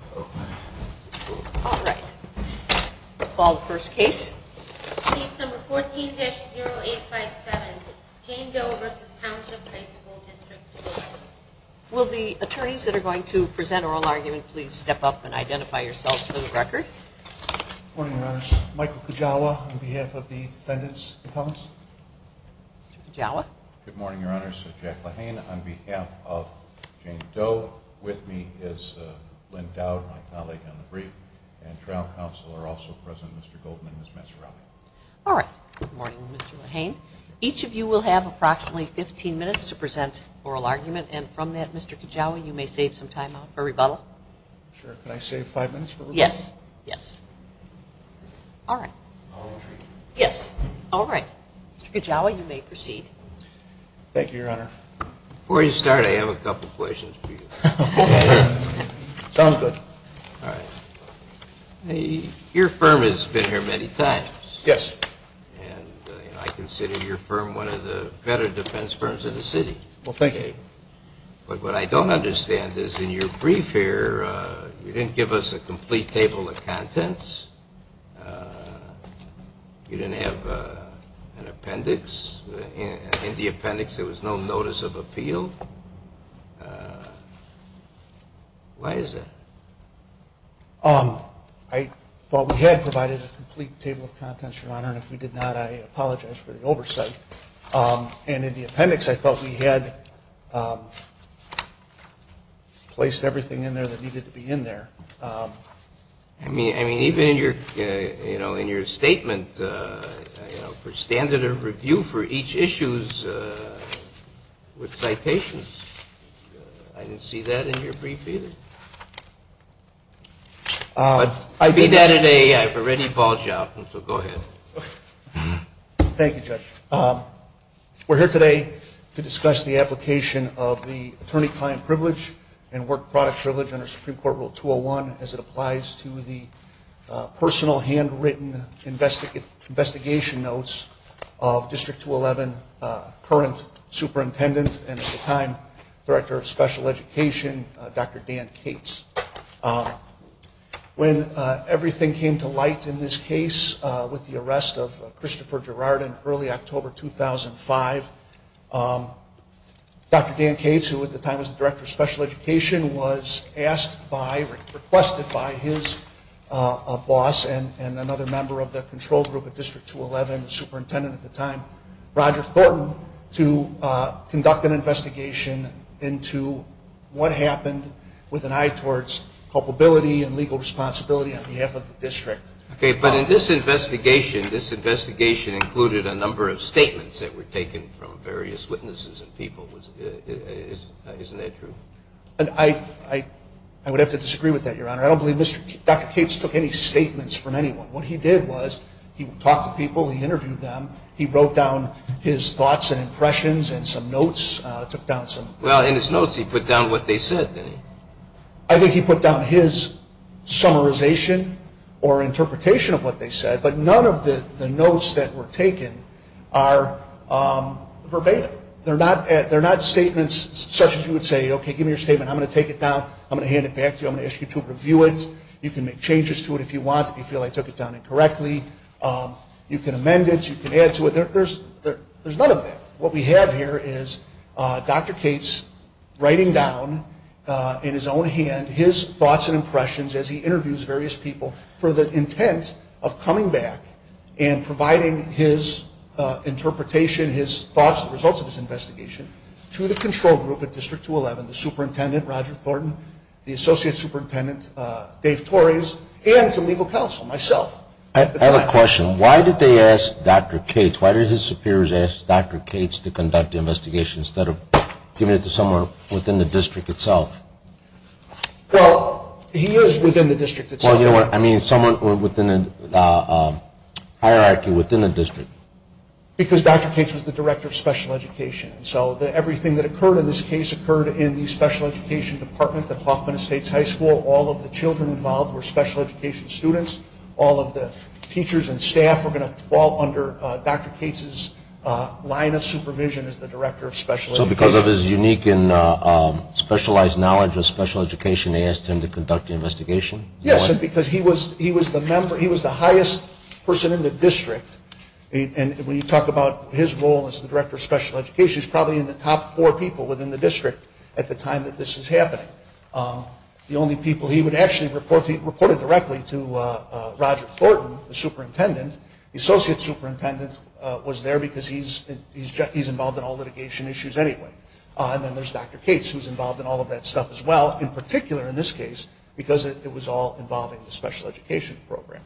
All right. We'll call the first case. Case number 14-0857, Jane Doe v. Township High School District 211. Will the attorneys that are going to present oral argument please step up and identify yourselves for the record. Good morning, Your Honors. Michael Kujawa on behalf of the defendants' appellants. Mr. Kujawa. Good morning, Your Honors. Jack LaHanne on behalf of Jane Doe. With me is Lynn Dowd, my colleague on the brief. And trial counsel are also present, Mr. Goldman and Ms. Maserati. All right. Good morning, Mr. LaHanne. Each of you will have approximately 15 minutes to present oral argument. And from that, Mr. Kujawa, you may save some time for rebuttal. Sure. Can I save five minutes for rebuttal? Yes. Yes. All right. I'll retreat. Yes. All right. Mr. Kujawa, you may proceed. Thank you, Your Honor. Before you start, I have a couple of questions for you. Sounds good. All right. Your firm has been here many times. Yes. And I consider your firm one of the better defense firms in the city. Well, thank you. But what I don't understand is in your brief here, you didn't give us a complete table of contents. You didn't have an appendix. In the appendix, there was no notice of appeal. Why is that? I thought we had provided a complete table of contents, Your Honor. And if we did not, I apologize for the oversight. And in the appendix, I thought we had placed everything in there that needed to be in there. I mean, even in your statement, for standard of review for each issue with citations, I didn't see that in your brief either. I did that in a ready ball job. So go ahead. Thank you, Judge. We're here today to discuss the application of the attorney-client privilege and work product privilege under Supreme Court Rule 201 as it applies to the personal, handwritten investigation notes of District 211 current superintendent and at the time director of special education, Dr. Dan Cates. When everything came to light in this case with the arrest of Christopher Girard in early October 2005, Dr. Dan Cates, who at the time was the director of special education, was asked by, requested by his boss and another member of the control group at District 211, the superintendent at the time, Roger Thornton, to conduct an investigation into what happened with an eye towards culpability and legal responsibility on behalf of the district. Okay, but in this investigation, this investigation included a number of statements that were taken from various witnesses and people. Isn't that true? I would have to disagree with that, Your Honor. I don't believe Dr. Cates took any statements from anyone. What he did was he talked to people, he interviewed them, he wrote down his thoughts and impressions and some notes, took down some. Well, in his notes, he put down what they said, didn't he? I think he put down his summarization or interpretation of what they said, but none of the notes that were taken are verbatim. They're not statements such as you would say, okay, give me your statement, I'm going to take it down, I'm going to hand it back to you, I'm going to ask you to review it. You can make changes to it if you want, if you feel I took it down incorrectly. You can amend it, you can add to it. There's none of that. What we have here is Dr. Cates writing down in his own hand his thoughts and impressions as he interviews various people for the intent of coming back and providing his interpretation, his thoughts, the results of his investigation, to the control group at District 211, the superintendent, Roger Thornton, the associate superintendent, Dave Torres, and to legal counsel, myself. I have a question. Why did they ask Dr. Cates? Why did his superiors ask Dr. Cates to conduct the investigation instead of giving it to someone within the district itself? Well, he is within the district itself. Well, you know what, I mean someone within the hierarchy within the district. Because Dr. Cates was the director of special education, so everything that occurred in this case occurred in the special education department at Hoffman Estates High School. All of the children involved were special education students. All of the teachers and staff were going to fall under Dr. Cates' line of supervision as the director of special education. So because of his unique and specialized knowledge of special education, they asked him to conduct the investigation? Yes, because he was the highest person in the district. And when you talk about his role as the director of special education, he's probably in the top four people within the district at the time that this is happening. He would actually report it directly to Roger Thornton, the superintendent. The associate superintendent was there because he's involved in all litigation issues anyway. And then there's Dr. Cates who's involved in all of that stuff as well, in particular in this case because it was all involving the special education program.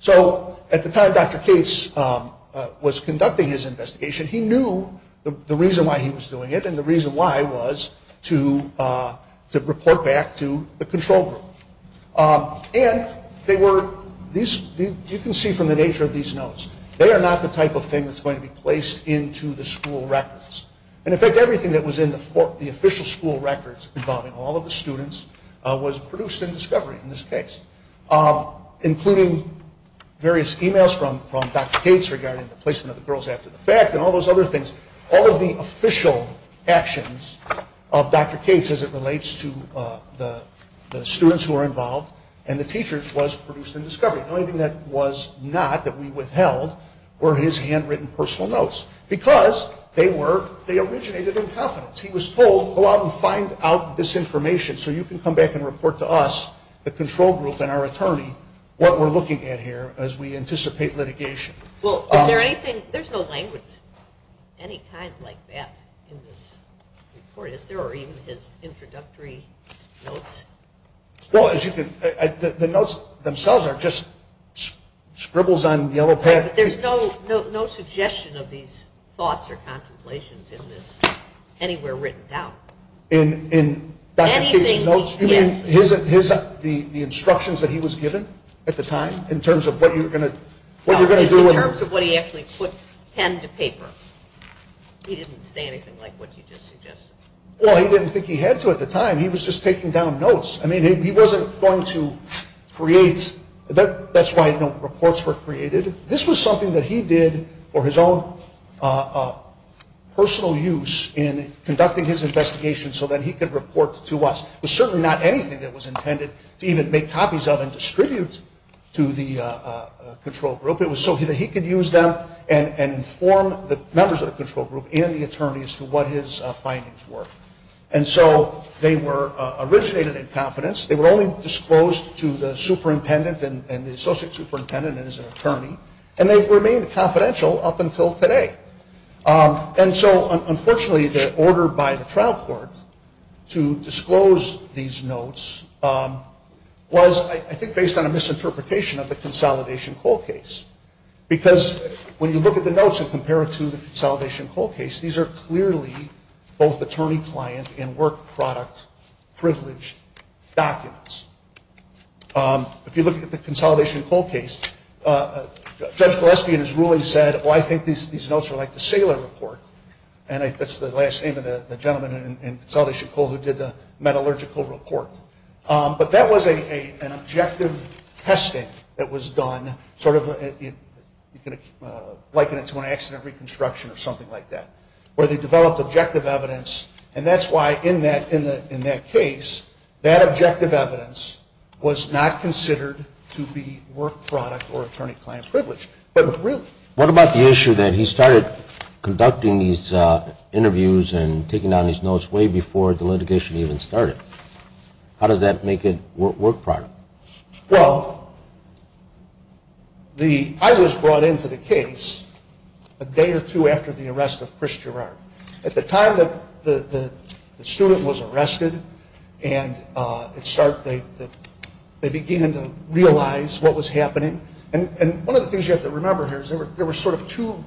So at the time Dr. Cates was conducting his investigation, he knew the reason why he was doing it and the reason why was to report back to the control group. And you can see from the nature of these notes, they are not the type of thing that's going to be placed into the school records. And, in fact, everything that was in the official school records involving all of the students was produced in discovery in this case, including various e-mails from Dr. Cates regarding the placement of the girls after the fact and all those other things. All of the official actions of Dr. Cates as it relates to the students who are involved and the teachers was produced in discovery. The only thing that was not that we withheld were his handwritten personal notes because they originated in confidence. He was told, go out and find out this information so you can come back and report to us, the control group and our attorney, what we're looking at here as we anticipate litigation. Well, is there anything, there's no language of any kind like that in this report. Is there even his introductory notes? Well, as you can, the notes themselves are just scribbles on yellow paper. There's no suggestion of these thoughts or contemplations in this anywhere written down. In Dr. Cates' notes? Anything, yes. You mean his, the instructions that he was given at the time in terms of what you're going to do in terms of what he actually put pen to paper? He didn't say anything like what you just suggested. Well, he didn't think he had to at the time. He was just taking down notes. I mean, he wasn't going to create, that's why no reports were created. This was something that he did for his own personal use in conducting his investigation so that he could report to us. It was certainly not anything that was intended to even make copies of and distribute to the control group. It was so that he could use them and inform the members of the control group and the attorney as to what his findings were. And so they were originated in confidence. They were only disclosed to the superintendent and the associate superintendent and his attorney, and they've remained confidential up until today. And so, unfortunately, the order by the trial court to disclose these notes was, I think, based on a misinterpretation of the Consolidation Coal case. Because when you look at the notes and compare it to the Consolidation Coal case, these are clearly both attorney-client and work-product privilege documents. If you look at the Consolidation Coal case, Judge Gillespie in his ruling said, well, I think these notes are like the Saylor report, and that's the last name of the gentleman in Consolidation Coal who did the metallurgical report. But that was an objective testing that was done, sort of liken it to an accident reconstruction or something like that, where they developed objective evidence, and that's why in that case that objective evidence was not considered to be work-product or attorney-client privilege. What about the issue that he started conducting these interviews and taking down these notes way before the litigation even started? How does that make it work-product? Well, I was brought into the case a day or two after the arrest of Chris Gerard. At the time that the student was arrested and they began to realize what was happening, and one of the things you have to remember here is there were sort of two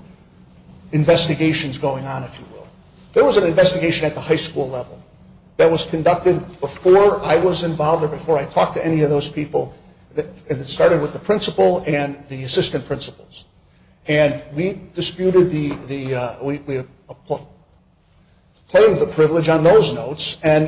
investigations going on, if you will. There was an investigation at the high school level that was conducted before I was involved or before I talked to any of those people, and it started with the principal and the assistant principals. And we disputed the claim of the privilege on those notes, and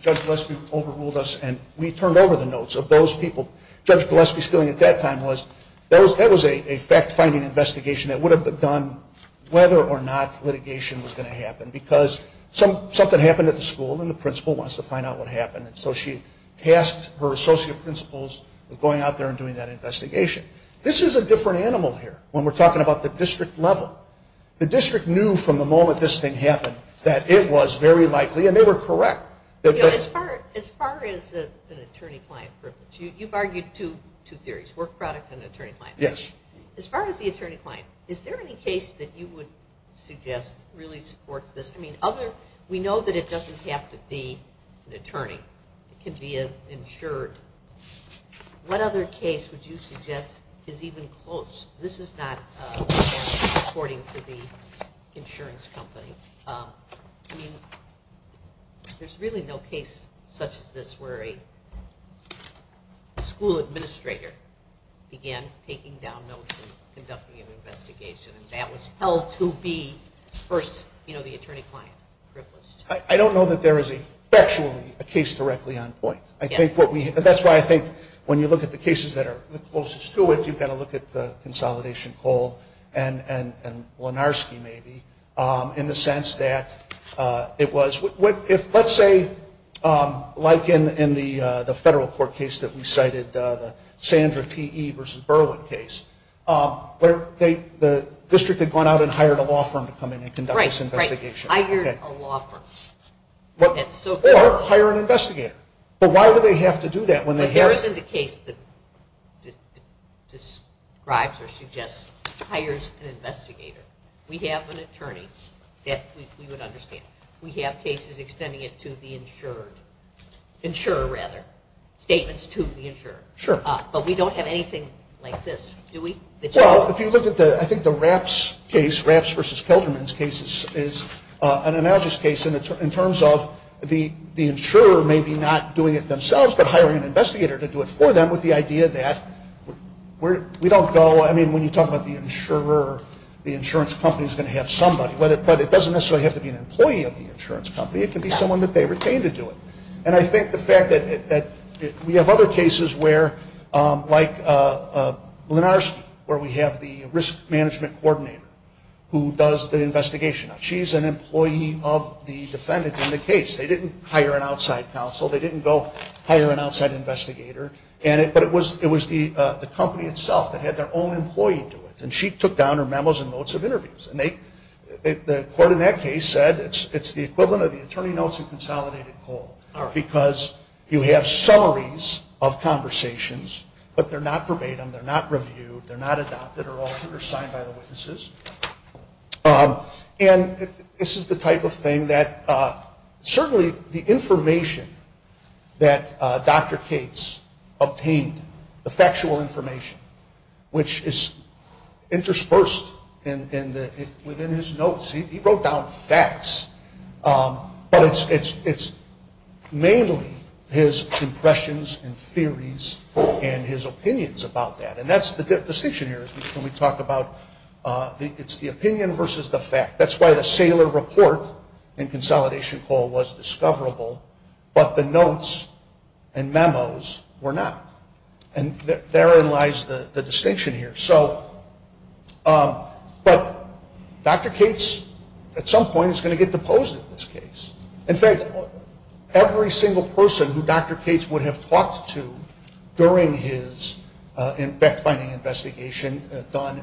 Judge Gillespie overruled us and we turned over the notes of those people. Judge Gillespie's feeling at that time was that was a fact-finding investigation that would have been done whether or not litigation was going to happen because something happened at the school and the principal wants to find out what happened, and so she tasked her associate principals with going out there and doing that investigation. This is a different animal here when we're talking about the district level. The district knew from the moment this thing happened that it was very likely, and they were correct. As far as an attorney-client privilege, you've argued two theories, work-product and attorney-client. Yes. As far as the attorney-client, is there any case that you would suggest really supports this? I mean, we know that it doesn't have to be an attorney. It can be an insured. What other case would you suggest is even close? This is not according to the insurance company. I mean, there's really no case such as this where a school administrator began taking down notes and conducting an investigation, and that was held to be first, you know, the attorney-client privilege. I don't know that there is effectually a case directly on point. That's why I think when you look at the cases that are closest to it, you've got to look at the Consolidation Coal and Lenarski, maybe, in the sense that it was. Let's say, like in the federal court case that we cited, the Sandra T.E. versus Berwyn case, where the district had gone out and hired a law firm to come in and conduct this investigation. Right, right, hired a law firm. Or hire an investigator. But why would they have to do that when they have? But there isn't a case that describes or suggests, hires an investigator. We have an attorney that we would understand. We have cases extending it to the insured, insurer rather, statements to the insurer. Sure. But we don't have anything like this, do we? Well, if you look at the, I think the Rapps case, Rapps versus Kelderman's case, is an analogous case in terms of the insurer maybe not doing it themselves, but hiring an investigator to do it for them with the idea that we don't go, I mean, when you talk about the insurer, the insurance company is going to have somebody. But it doesn't necessarily have to be an employee of the insurance company. It can be someone that they retain to do it. And I think the fact that we have other cases where, like Lenarski, where we have the risk management coordinator who does the investigation. Now, she's an employee of the defendant in the case. They didn't hire an outside counsel. They didn't go hire an outside investigator. But it was the company itself that had their own employee do it. And she took down her memos and notes of interviews. And the court in that case said it's the equivalent of the attorney notes in consolidated coal because you have summaries of conversations, but they're not verbatim. They're not reviewed. They're not adopted or altered or signed by the witnesses. And this is the type of thing that certainly the information that Dr. Cates obtained, the factual information, which is interspersed within his notes. He wrote down facts. But it's mainly his impressions and theories and his opinions about that. And that's the distinction here is when we talk about it's the opinion versus the fact. That's why the Saylor report in consolidation coal was discoverable, but the notes and memos were not. And therein lies the distinction here. But Dr. Cates at some point is going to get deposed in this case. In fact, every single person who Dr. Cates would have talked to during his fact-finding investigation done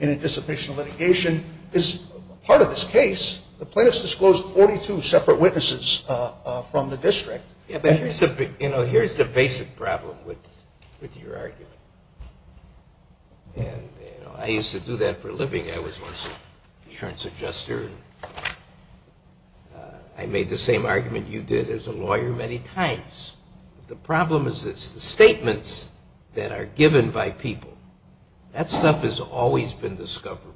in anticipation of litigation is part of this case. The plaintiffs disclosed 42 separate witnesses from the district. Here's the basic problem with your argument. And I used to do that for a living. I was an insurance adjuster. I made the same argument you did as a lawyer many times. The problem is it's the statements that are given by people. That stuff has always been discoverable.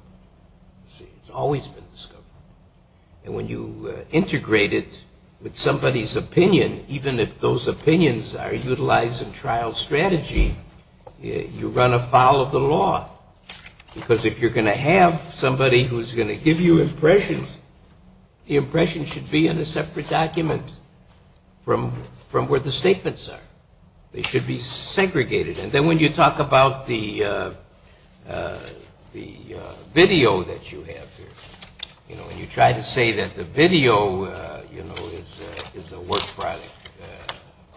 It's always been discoverable. And when you integrate it with somebody's opinion, even if those opinions are utilized in trial strategy, you run afoul of the law. Because if you're going to have somebody who's going to give you impressions, the impressions should be in a separate document from where the statements are. They should be segregated. And then when you talk about the video that you have here, when you try to say that the video is a work product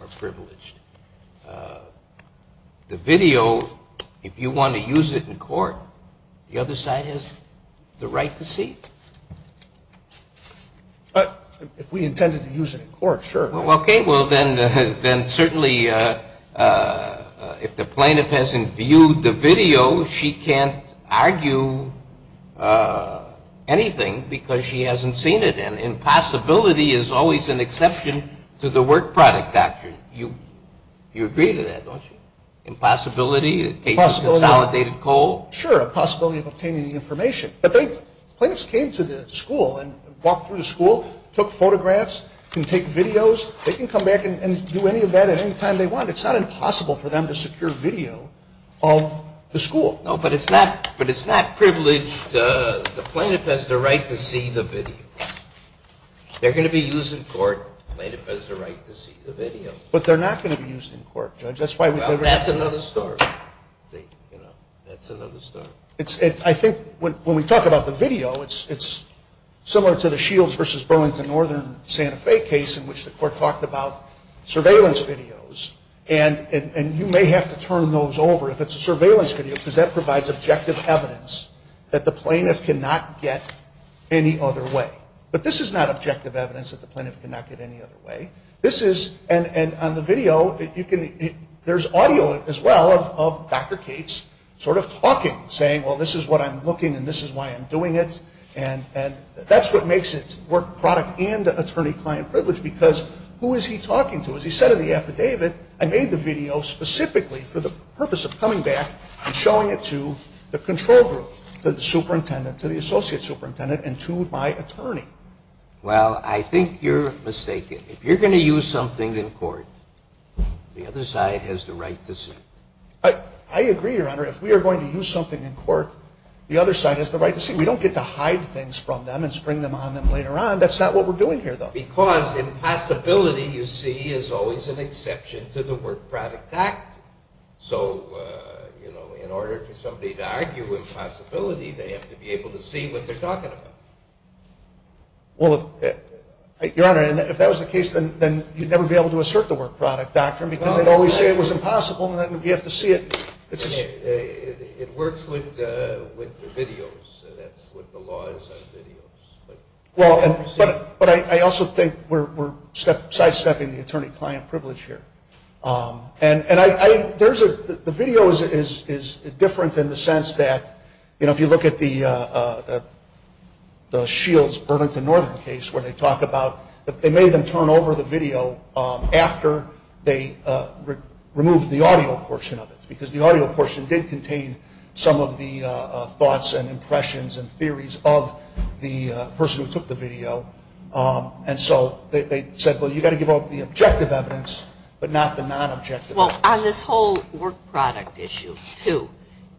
or privileged, the video, if you want to use it in court, the other side has the right to see it. If we intended to use it in court, sure. Okay. Well, then certainly if the plaintiff hasn't viewed the video, she can't argue anything because she hasn't seen it. And impossibility is always an exception to the work product doctrine. You agree to that, don't you? Impossibility in the case of consolidated coal? Sure, a possibility of obtaining the information. But plaintiffs came to the school and walked through the school, took photographs, can take videos, they can come back and do any of that at any time they want. It's not impossible for them to secure video of the school. No, but it's not privileged. The plaintiff has the right to see the video. They're going to be used in court. The plaintiff has the right to see the video. But they're not going to be used in court, Judge. Well, that's another story. That's another story. I think when we talk about the video, it's similar to the Shields v. Burlington Northern Santa Fe case in which the court talked about surveillance videos. And you may have to turn those over if it's a surveillance video because that provides objective evidence that the plaintiff cannot get any other way. But this is not objective evidence that the plaintiff cannot get any other way. And on the video, there's audio as well of Dr. Cates sort of talking, saying, well, this is what I'm looking and this is why I'm doing it. And that's what makes it work product and attorney-client privilege because who is he talking to? As he said in the affidavit, I made the video specifically for the purpose of coming back and showing it to the control group, to the superintendent, to the associate superintendent, and to my attorney. Well, I think you're mistaken. If you're going to use something in court, the other side has the right to see it. I agree, Your Honor. If we are going to use something in court, the other side has the right to see it. We don't get to hide things from them and spring them on them later on. That's not what we're doing here, though. Because impossibility, you see, is always an exception to the work product act. So, you know, in order for somebody to argue impossibility, they have to be able to see what they're talking about. Well, Your Honor, if that was the case, then you'd never be able to assert the work product doctrine because they'd always say it was impossible and then you'd have to see it. It works with the videos. That's what the law is on videos. But I also think we're sidestepping the attorney-client privilege here. And the video is different in the sense that, you know, if you look at the Shields Burlington Northern case where they talk about they made them turn over the video after they removed the audio portion of it because the audio portion did contain some of the thoughts and impressions and theories of the person who took the video. And so they said, well, you've got to give up the objective evidence, but not the non-objective evidence. Well, on this whole work product issue, too,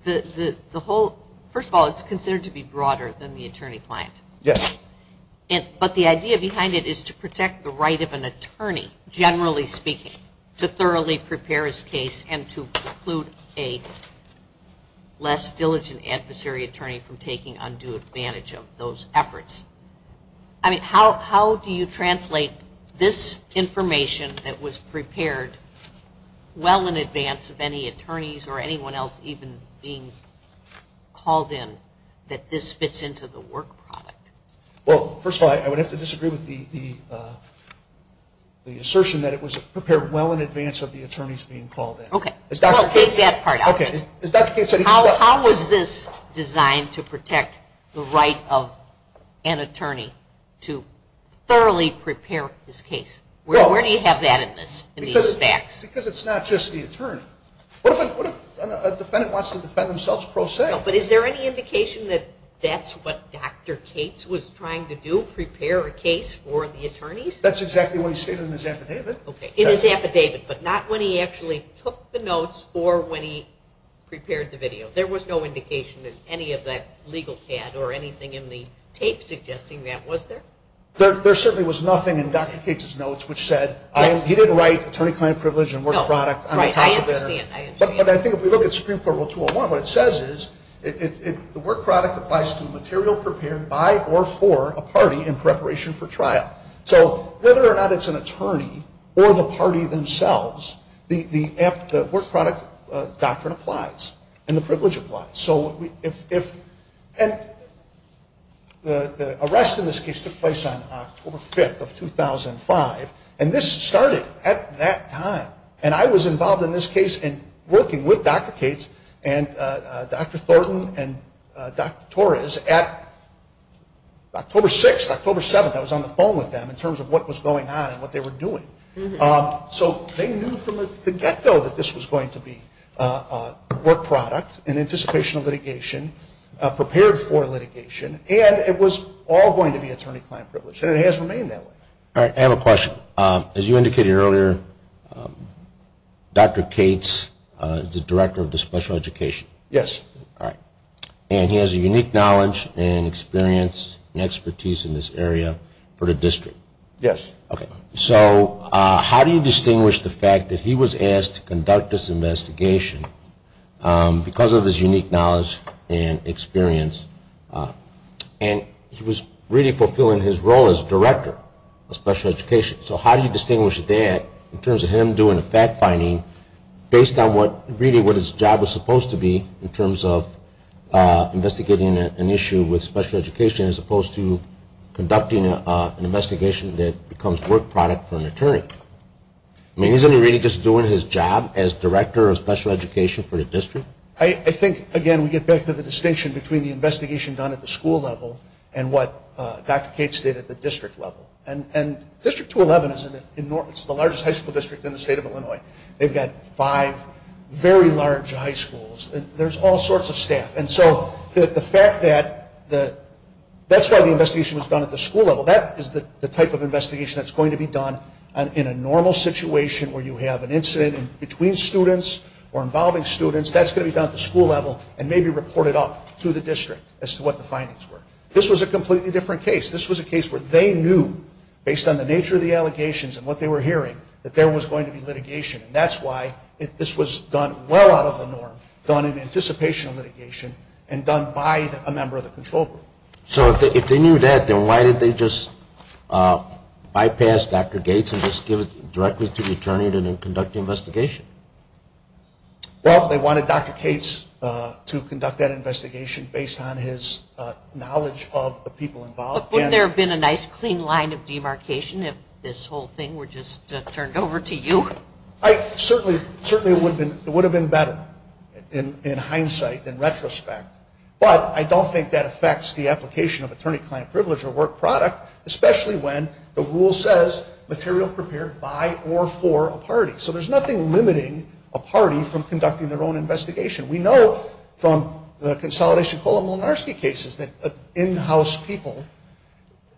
the whole – first of all, it's considered to be broader than the attorney-client. Yes. But the idea behind it is to protect the right of an attorney, generally speaking, to thoroughly prepare his case and to preclude a less diligent adversary attorney from taking undue advantage of those efforts. I mean, how do you translate this information that was prepared well in advance of any Well, first of all, I would have to disagree with the assertion that it was prepared well in advance of the attorneys being called in. Okay. Well, take that part out. Okay. How was this designed to protect the right of an attorney to thoroughly prepare his case? Where do you have that in these facts? Because it's not just the attorney. What if a defendant wants to defend themselves pro se? But is there any indication that that's what Dr. Cates was trying to do, prepare a case for the attorneys? That's exactly what he stated in his affidavit. Okay. In his affidavit, but not when he actually took the notes or when he prepared the video. There was no indication of any of that legal CAD or anything in the tape suggesting that, was there? There certainly was nothing in Dr. Cates' notes which said, he didn't write attorney-client privilege and work product on the top of there. No. Right. I understand. But I think if we look at Supreme Court Rule 201, what it says is the work product applies to material prepared by or for a party in preparation for trial. So whether or not it's an attorney or the party themselves, the work product doctrine applies and the privilege applies. And the arrest in this case took place on October 5th of 2005, and this started at that time. And I was involved in this case in working with Dr. Cates and Dr. Thornton and Dr. Torres at October 6th, October 7th. I was on the phone with them in terms of what was going on and what they were doing. So they knew from the get-go that this was going to be work product and anticipation of litigation, prepared for litigation, and it was all going to be attorney-client privilege. And it has remained that way. All right. I have a question. As you indicated earlier, Dr. Cates is the director of the special education. Yes. All right. And he has a unique knowledge and experience and expertise in this area for the district. Yes. Okay. So how do you distinguish the fact that he was asked to conduct this investigation because of his unique knowledge and experience, and he was really fulfilling his role as director of special education. So how do you distinguish that in terms of him doing a fact-finding based on really what his job was supposed to be in terms of investigating an issue with special education as opposed to conducting an investigation that becomes work product for an attorney? I mean, isn't he really just doing his job as director of special education for the district? I think, again, we get back to the distinction between the investigation done at the school level and what Dr. Cates did at the district level. And District 211 is the largest high school district in the state of Illinois. They've got five very large high schools. There's all sorts of staff. And so the fact that that's why the investigation was done at the school level, that is the type of investigation that's going to be done in a normal situation where you have an incident between students or involving students, that's going to be done at the school level and maybe reported up to the district as to what the findings were. This was a completely different case. This was a case where they knew, based on the nature of the allegations and what they were hearing, that there was going to be litigation. And that's why this was done well out of the norm, done in anticipation of litigation, and done by a member of the control group. So if they knew that, then why did they just bypass Dr. Cates and just give it directly to the attorney to conduct the investigation? Well, they wanted Dr. Cates to conduct that investigation based on his knowledge of the people involved. But wouldn't there have been a nice, clean line of demarcation if this whole thing were just turned over to you? Certainly it would have been better in hindsight, in retrospect. But I don't think that affects the application of attorney-client privilege or work product, especially when the rule says material prepared by or for a party. So there's nothing limiting a party from conducting their own investigation. We know from the Consolidation Coal and Molinarski cases that in-house people,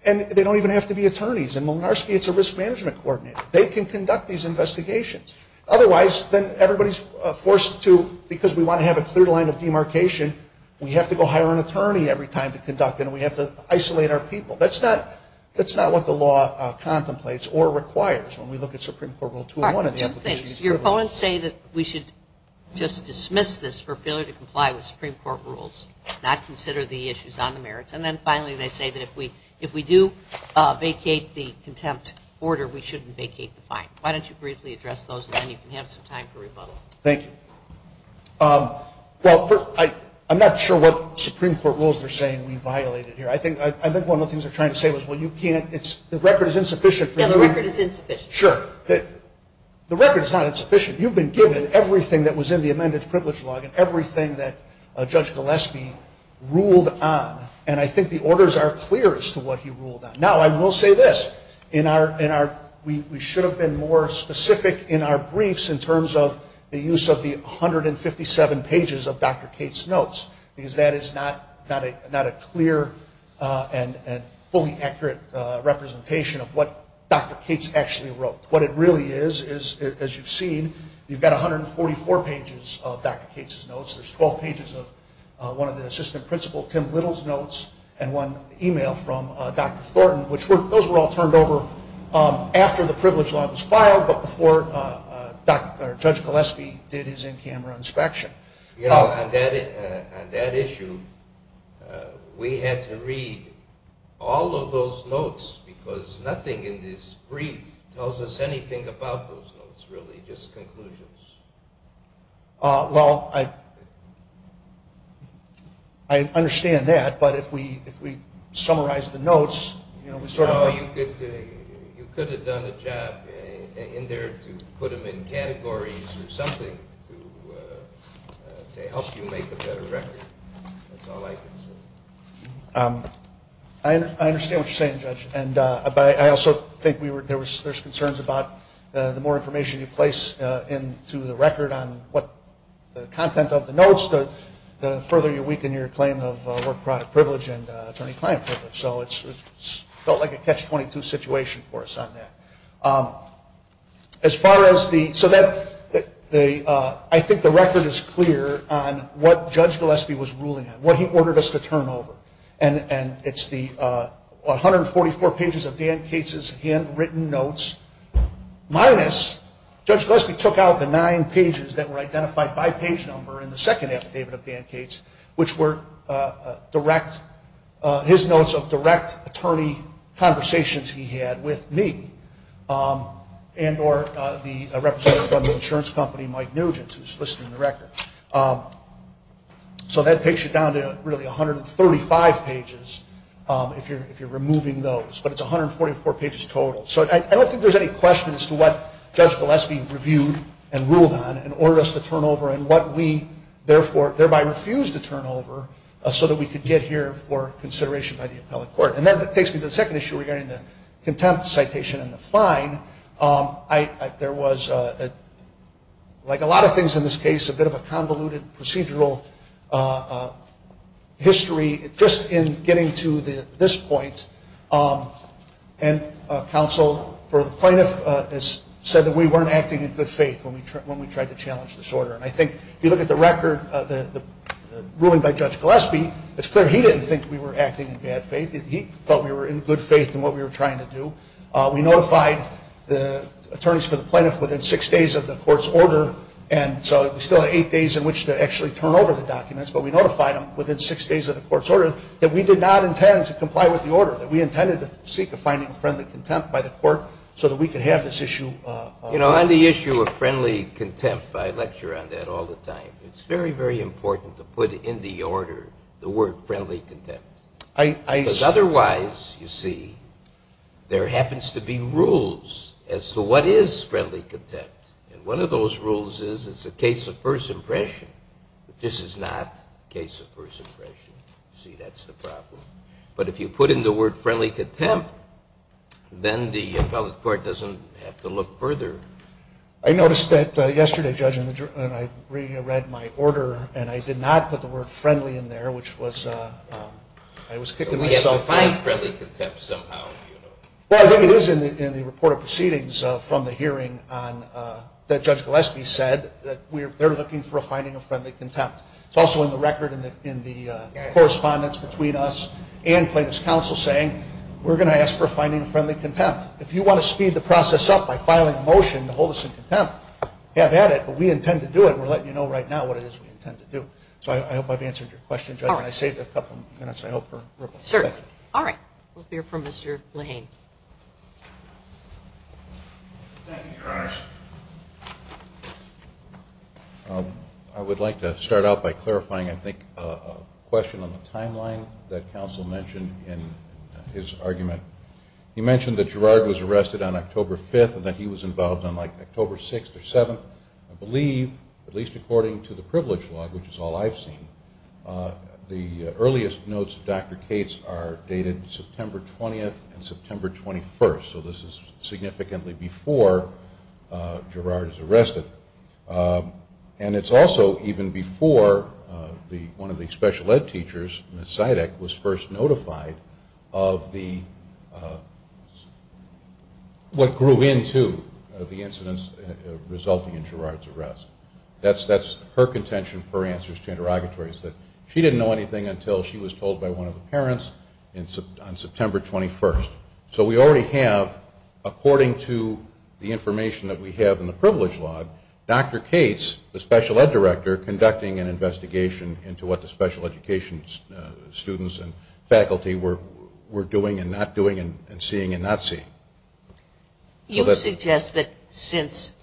and they don't even have to be attorneys. In Molinarski, it's a risk management coordinator. They can conduct these investigations. Otherwise, then everybody's forced to, because we want to have a clear line of demarcation, we have to go hire an attorney every time to conduct it, and we have to isolate our people. That's not what the law contemplates or requires when we look at Supreme Court Rule 201. Two things. Your opponents say that we should just dismiss this for failure to comply with Supreme Court rules, not consider the issues on the merits. And then, finally, they say that if we do vacate the contempt order, we shouldn't vacate the fine. Why don't you briefly address those, and then you can have some time for rebuttal. Thank you. Well, first, I'm not sure what Supreme Court rules they're saying we violated here. I think one of the things they're trying to say is, well, you can't, it's, the record is insufficient for you. Yeah, the record is insufficient. Sure. The record is not insufficient. You've been given everything that was in the amended privilege log and everything that Judge Gillespie ruled on, and I think the orders are clear as to what he ruled on. Now, I will say this. In our, we should have been more specific in our briefs in terms of the use of the 157 pages of Dr. Cates' notes, because that is not a clear and fully accurate representation of what Dr. Cates actually wrote. What it really is, as you've seen, you've got 144 pages of Dr. Cates' notes. There's 12 pages of one of the assistant principal, Tim Little's notes, and one email from Dr. Thornton, which those were all turned over after the privilege log was filed, but before Judge Gillespie did his in-camera inspection. You know, on that issue, we had to read all of those notes because nothing in this brief tells us anything about those notes, really, just conclusions. Well, I understand that, but if we summarize the notes, you know, we sort of- You could have done a job in there to put them in categories or something to help you make a better record. That's all I can say. I understand what you're saying, Judge, but I also think there's concerns about the more information you place into the record on what the content of the notes, the further you weaken your claim of work product privilege and attorney-client privilege. So it felt like a catch-22 situation for us on that. As far as the- So I think the record is clear on what Judge Gillespie was ruling on, what he ordered us to turn over. And it's the 144 pages of Dan Cates' handwritten notes minus- Judge Gillespie took out the nine pages that were identified by page number in the second affidavit of Dan Cates, which were direct-his notes of direct attorney conversations he had with me and or the representative from the insurance company, Mike Nugent, who's listing the record. So that takes you down to really 135 pages if you're removing those. But it's 144 pages total. So I don't think there's any question as to what Judge Gillespie reviewed and ruled on and ordered us to turn over and what we, therefore, thereby refused to turn over so that we could get here for consideration by the appellate court. And that takes me to the second issue regarding the contempt citation and the fine. There was, like a lot of things in this case, a bit of a convoluted procedural history. Just in getting to this point, counsel for the plaintiff has said that we weren't acting in good faith when we tried to challenge this order. And I think if you look at the record, the ruling by Judge Gillespie, it's clear he didn't think we were acting in bad faith. He felt we were in good faith in what we were trying to do. We notified the attorneys for the plaintiff within six days of the court's order. And so we still had eight days in which to actually turn over the documents, but we notified them within six days of the court's order that we did not intend to comply with the order, that we intended to seek a finding of friendly contempt by the court so that we could have this issue. You know, on the issue of friendly contempt, I lecture on that all the time. It's very, very important to put in the order the word friendly contempt. Because otherwise, you see, there happens to be rules as to what is friendly contempt. And one of those rules is it's a case of first impression. This is not a case of first impression. You see, that's the problem. But if you put in the word friendly contempt, then the appellate court doesn't have to look further. I noticed that yesterday, Judge, when I reread my order, and I did not put the word friendly in there, which was, I was kicking myself. We have to find friendly contempt somehow. Well, I think it is in the report of proceedings from the hearing that Judge Gillespie said that they're looking for a finding of friendly contempt. It's also in the record in the correspondence between us and plaintiff's counsel saying, we're going to ask for a finding of friendly contempt. If you want to speed the process up by filing a motion to hold us in contempt, have at it. But we intend to do it, and we're letting you know right now what it is we intend to do. So I hope I've answered your question, Judge. And I saved a couple minutes, I hope, for Ripple. Certainly. All right. We'll hear from Mr. Lehane. Thank you, Your Honors. I would like to start out by clarifying, I think, a question on the timeline that counsel mentioned in his argument. He mentioned that Girard was arrested on October 5th and that he was involved on, like, October 6th or 7th. I believe, at least according to the privilege law, which is all I've seen, the earliest notes of Dr. Cates are dated September 20th and September 21st. So this is significantly before Girard is arrested. And it's also even before one of the special ed teachers, Ms. Zidek, was first notified of what grew into the incidents resulting in Girard's arrest. That's her contention, her answers to interrogatories, that she didn't know anything until she was told by one of the parents on September 21st. So we already have, according to the information that we have in the privilege law, Dr. Cates, the special ed director, conducting an investigation into what the special education students and faculty were doing and not doing and seeing and not seeing. You suggest that since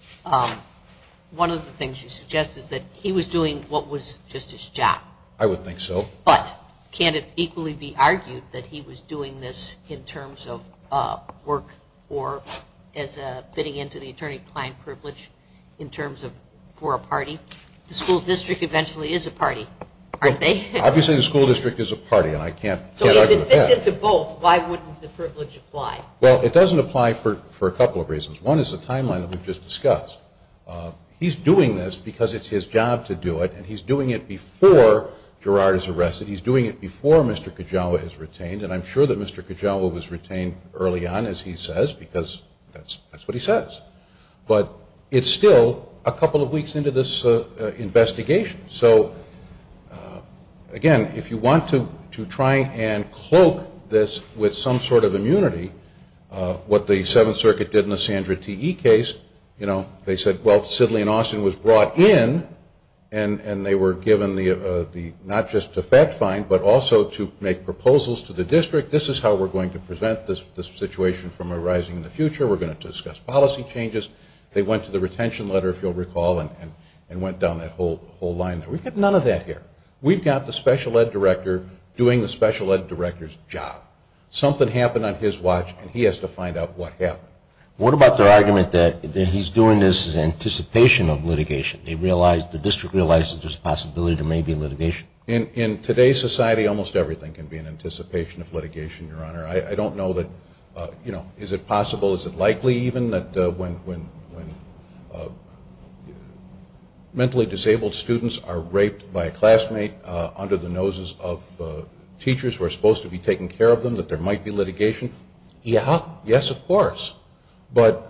one of the things you suggest is that he was doing what was just his job. I would think so. But can it equally be argued that he was doing this in terms of work or as fitting into the attorney-client privilege in terms of for a party? The school district eventually is a party, aren't they? Obviously the school district is a party, and I can't argue with that. So if it fits into both, why wouldn't the privilege apply? Well, it doesn't apply for a couple of reasons. One is the timeline that we've just discussed. He's doing this because it's his job to do it, and he's doing it before Girard is arrested. He's doing it before Mr. Kajawa is retained, and I'm sure that Mr. Kajawa was retained early on, as he says, because that's what he says. But it's still a couple of weeks into this investigation. So, again, if you want to try and cloak this with some sort of immunity, what the Seventh Circuit did in the Sandra T.E. case, they said, well, Sidley and Austin was brought in, and they were given not just a fact find, but also to make proposals to the district. This is how we're going to prevent this situation from arising in the future. We're going to discuss policy changes. They went to the retention letter, if you'll recall, and went down that whole line there. We've got none of that here. We've got the special ed director doing the special ed director's job. Something happened on his watch, and he has to find out what happened. What about their argument that he's doing this in anticipation of litigation? They realize, the district realizes there's a possibility there may be litigation. In today's society, almost everything can be in anticipation of litigation, Your Honor. I don't know that, you know, is it possible, is it likely even, that when mentally disabled students are raped by a classmate under the noses of teachers who are supposed to be taking care of them, that there might be litigation? Yeah. Yes, of course. But,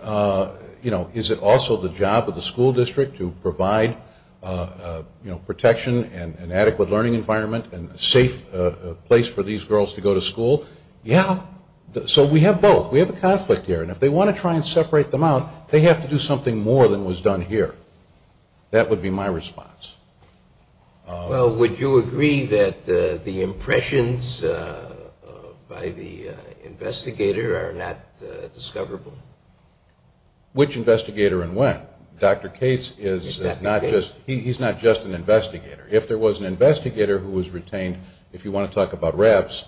you know, is it also the job of the school district to provide protection and an adequate learning environment and a safe place for these girls to go to school? Yeah. So we have both. We have a conflict here, and if they want to try and separate them out, they have to do something more than was done here. That would be my response. Well, would you agree that the impressions by the investigator are not discoverable? Which investigator and when? Dr. Cates is not just an investigator. If there was an investigator who was retained, if you want to talk about raps,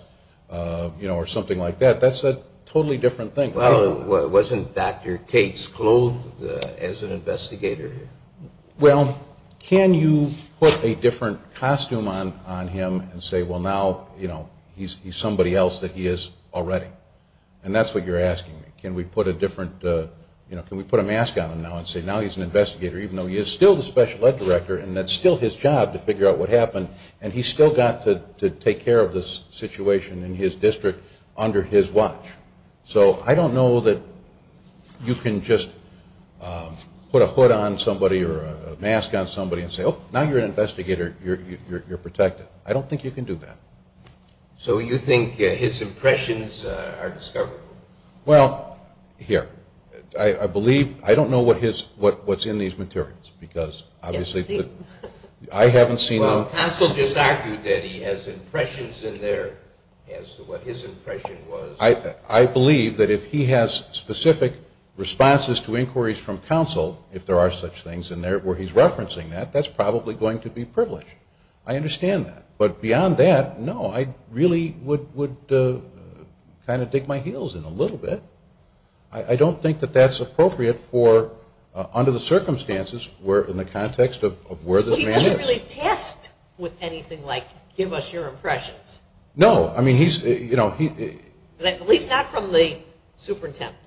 you know, or something like that, that's a totally different thing. Well, wasn't Dr. Cates clothed as an investigator? Well, can you put a different costume on him and say, well, now, you know, he's somebody else that he is already? And that's what you're asking me. Can we put a different, you know, can we put a mask on him now and say, now he's an investigator even though he is still the special ed director and that's still his job to figure out what happened, and he's still got to take care of this situation in his district under his watch. So I don't know that you can just put a hood on somebody or a mask on somebody and say, oh, now you're an investigator, you're protected. I don't think you can do that. So you think his impressions are discoverable? Well, here, I believe, I don't know what's in these materials because obviously I haven't seen them. Well, counsel just argued that he has impressions in there as to what his impression was. I believe that if he has specific responses to inquiries from counsel, if there are such things in there where he's referencing that, that's probably going to be privileged. I understand that. But beyond that, no, I really would kind of dig my heels in a little bit. I don't think that that's appropriate under the circumstances in the context of where this man is. Well, he wasn't really tasked with anything like give us your impressions. No. At least not from the superintendent.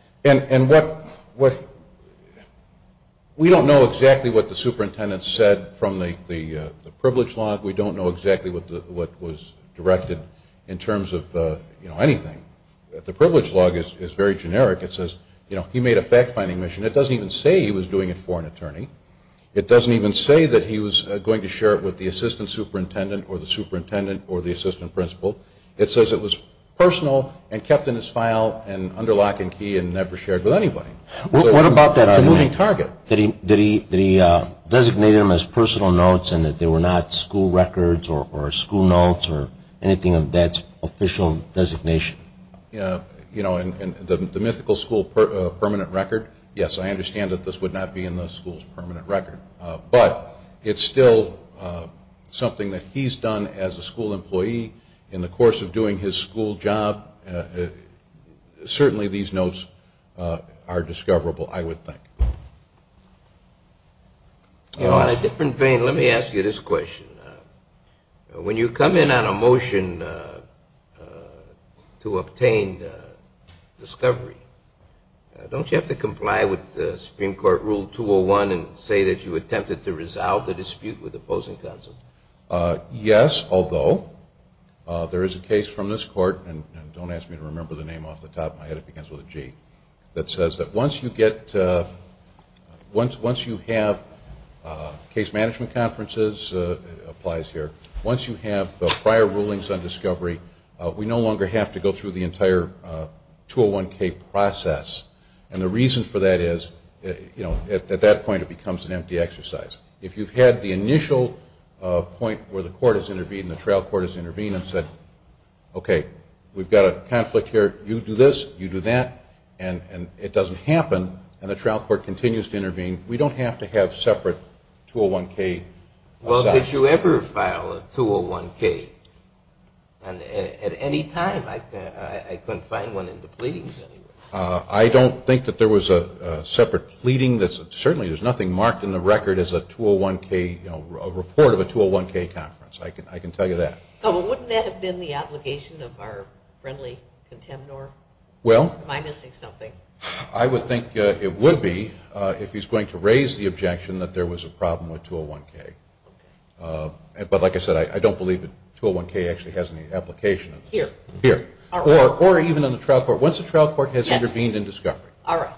We don't know exactly what the superintendent said from the privilege log. We don't know exactly what was directed in terms of anything. The privilege log is very generic. It says he made a fact-finding mission. It doesn't even say he was doing it for an attorney. It doesn't even say that he was going to share it with the assistant superintendent or the superintendent or the assistant principal. It says it was personal and kept in his file and under lock and key and never shared with anybody. What about that? It's a moving target. Did he designate them as personal notes and that they were not school records or school notes or anything of that official designation? You know, in the mythical school permanent record, yes, I understand that this would not be in the school's permanent record. But it's still something that he's done as a school employee in the course of doing his school job. Certainly these notes are discoverable, I would think. On a different vein, let me ask you this question. When you come in on a motion to obtain discovery, don't you have to comply with Supreme Court Rule 201 and say that you attempted to resolve the dispute with opposing counsel? Yes, although there is a case from this court, and don't ask me to remember the name off the top of my head, it begins with a G, that says that once you have case management conferences, it applies here, once you have prior rulings on discovery, we no longer have to go through the entire 201K process. And the reason for that is at that point it becomes an empty exercise. If you've had the initial point where the court has intervened and the trial court has intervened and said, okay, we've got a conflict here, you do this, you do that, and it doesn't happen and the trial court continues to intervene, we don't have to have separate 201K. Well, did you ever file a 201K? At any time, I couldn't find one in the pleadings. I don't think that there was a separate pleading. Certainly there's nothing marked in the record as a 201K, a report of a 201K conference. I can tell you that. Wouldn't that have been the obligation of our friendly contemnor? Am I missing something? I would think it would be if he's going to raise the objection that there was a problem with 201K. But like I said, I don't believe that 201K actually has any application. Here. Or even in the trial court. Once the trial court has intervened in discovery. All right.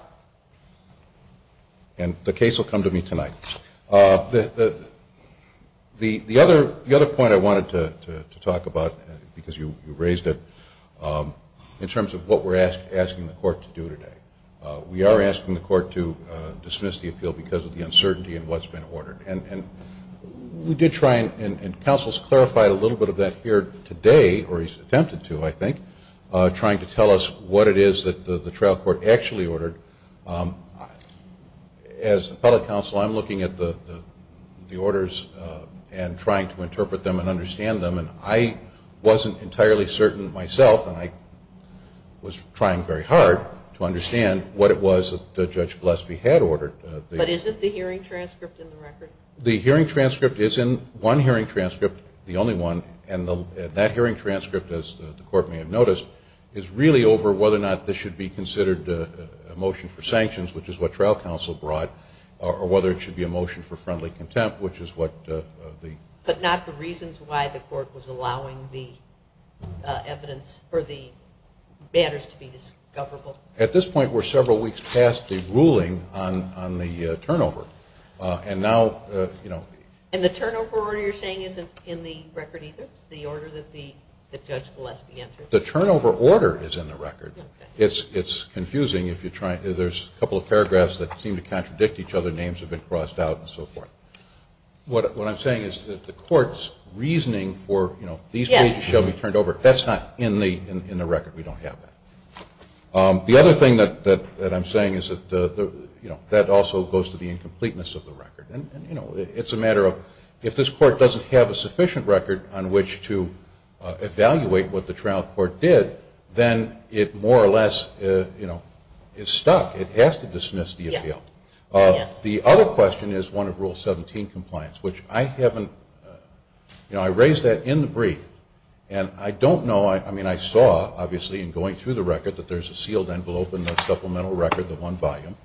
And the case will come to me tonight. The other point I wanted to talk about, because you raised it, in terms of what we're asking the court to do today, we are asking the court to dismiss the appeal because of the uncertainty in what's been ordered. And we did try, and counsel's clarified a little bit of that here today, or he's attempted to, I think, trying to tell us what it is that the trial court actually ordered. As appellate counsel, I'm looking at the orders and trying to interpret them and understand them. And I wasn't entirely certain myself, and I was trying very hard to understand what it was that Judge Gillespie had ordered. But isn't the hearing transcript in the record? The hearing transcript is in one hearing transcript, the only one. And that hearing transcript, as the court may have noticed, is really over whether or not this should be considered a motion for sanctions, which is what trial counsel brought, or whether it should be a motion for friendly contempt, which is what the. But not the reasons why the court was allowing the evidence or the matters to be discoverable? At this point, we're several weeks past the ruling on the turnover. And now, you know. And the turnover order you're saying isn't in the record either, the order that Judge Gillespie entered? The turnover order is in the record. It's confusing if you try. There's a couple of paragraphs that seem to contradict each other. Names have been crossed out and so forth. What I'm saying is that the court's reasoning for, you know, these pages shall be turned over, that's not in the record. We don't have that. The other thing that I'm saying is that, you know, that also goes to the incompleteness of the record. And, you know, it's a matter of if this court doesn't have a sufficient record on which to evaluate what the trial court did, then it more or less, you know, is stuck. It has to dismiss the appeal. The other question is one of Rule 17 compliance, which I haven't, you know, I raised that in the brief. And I don't know, I mean, I saw, obviously, in going through the record, that there's a sealed envelope in the supplemental record, the one volume,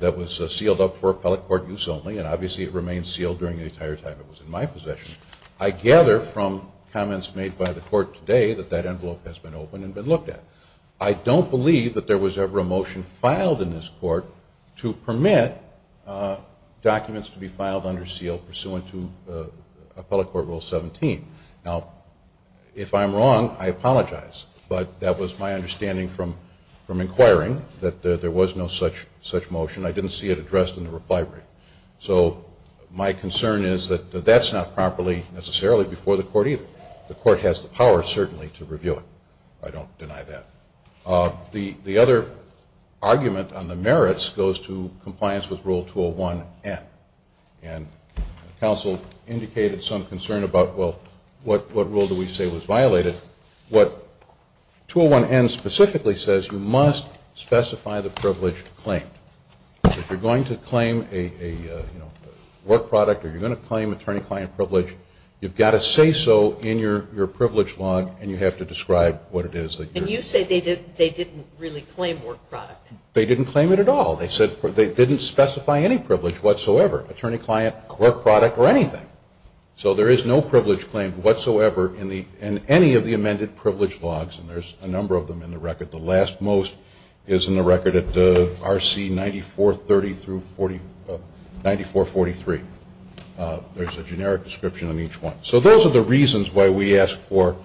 that was sealed up for appellate court use only, and obviously it remained sealed during the entire time it was in my possession. I gather from comments made by the court today that that envelope has been opened and been looked at. I don't believe that there was ever a motion filed in this court to permit documents to be filed under seal pursuant to appellate court Rule 17. Now, if I'm wrong, I apologize. But that was my understanding from inquiring that there was no such motion. I didn't see it addressed in the reply brief. So my concern is that that's not properly, necessarily, before the court either. The court has the power, certainly, to review it. I don't deny that. The other argument on the merits goes to compliance with Rule 201N. And counsel indicated some concern about, well, what rule do we say was violated? What 201N specifically says, you must specify the privileged claim. If you're going to claim a work product or you're going to claim attorney-client privilege, you've got to say so in your privilege log and you have to describe what it is. And you say they didn't really claim work product. They didn't claim it at all. They said they didn't specify any privilege whatsoever, attorney-client, work product, or anything. So there is no privilege claim whatsoever in any of the amended privilege logs. And there's a number of them in the record. The last most is in the record at RC 9430 through 9443. There's a generic description on each one. So those are the reasons why we ask for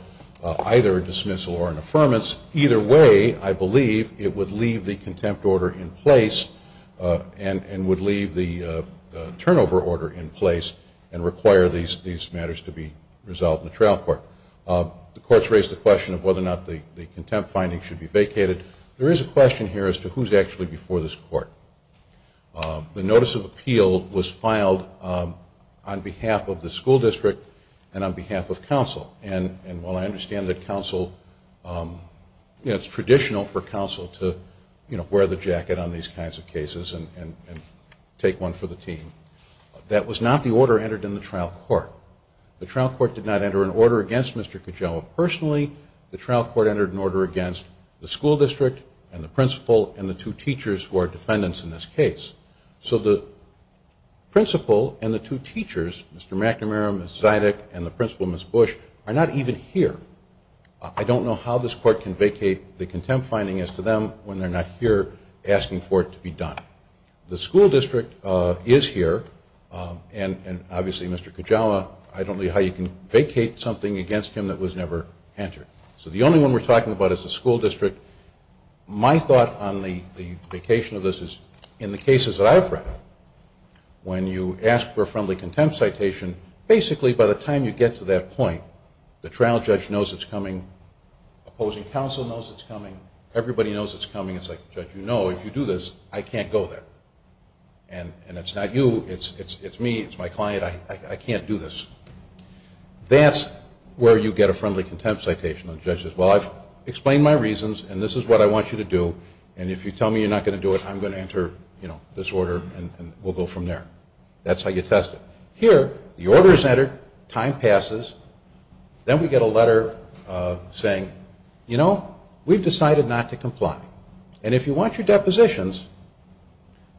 either a dismissal or an affirmance. Either way, I believe it would leave the contempt order in place and would leave the turnover order in place and require these matters to be resolved in the trial court. The courts raised the question of whether or not the contempt finding should be vacated. The notice of appeal was filed on behalf of the school district and on behalf of counsel. And while I understand that it's traditional for counsel to wear the jacket on these kinds of cases and take one for the team, that was not the order entered in the trial court. The trial court did not enter an order against Mr. Kujawa personally. The trial court entered an order against the school district and the principal and the two teachers who are defendants in this case. So the principal and the two teachers, Mr. McNamara, Ms. Zydek, and the principal, Ms. Bush, are not even here. I don't know how this court can vacate the contempt finding as to them when they're not here asking for it to be done. The school district is here, and obviously Mr. Kujawa, I don't know how you can vacate something against him that was never entered. So the only one we're talking about is the school district. My thought on the vacation of this is in the cases that I've read, when you ask for a friendly contempt citation, basically by the time you get to that point, the trial judge knows it's coming, opposing counsel knows it's coming, everybody knows it's coming. It's like, Judge, you know if you do this, I can't go there. And it's not you, it's me, it's my client, I can't do this. That's where you get a friendly contempt citation. The judge says, well, I've explained my reasons and this is what I want you to do, and if you tell me you're not going to do it, I'm going to enter this order and we'll go from there. That's how you test it. Here, the order is entered, time passes, then we get a letter saying, you know, we've decided not to comply. And if you want your depositions,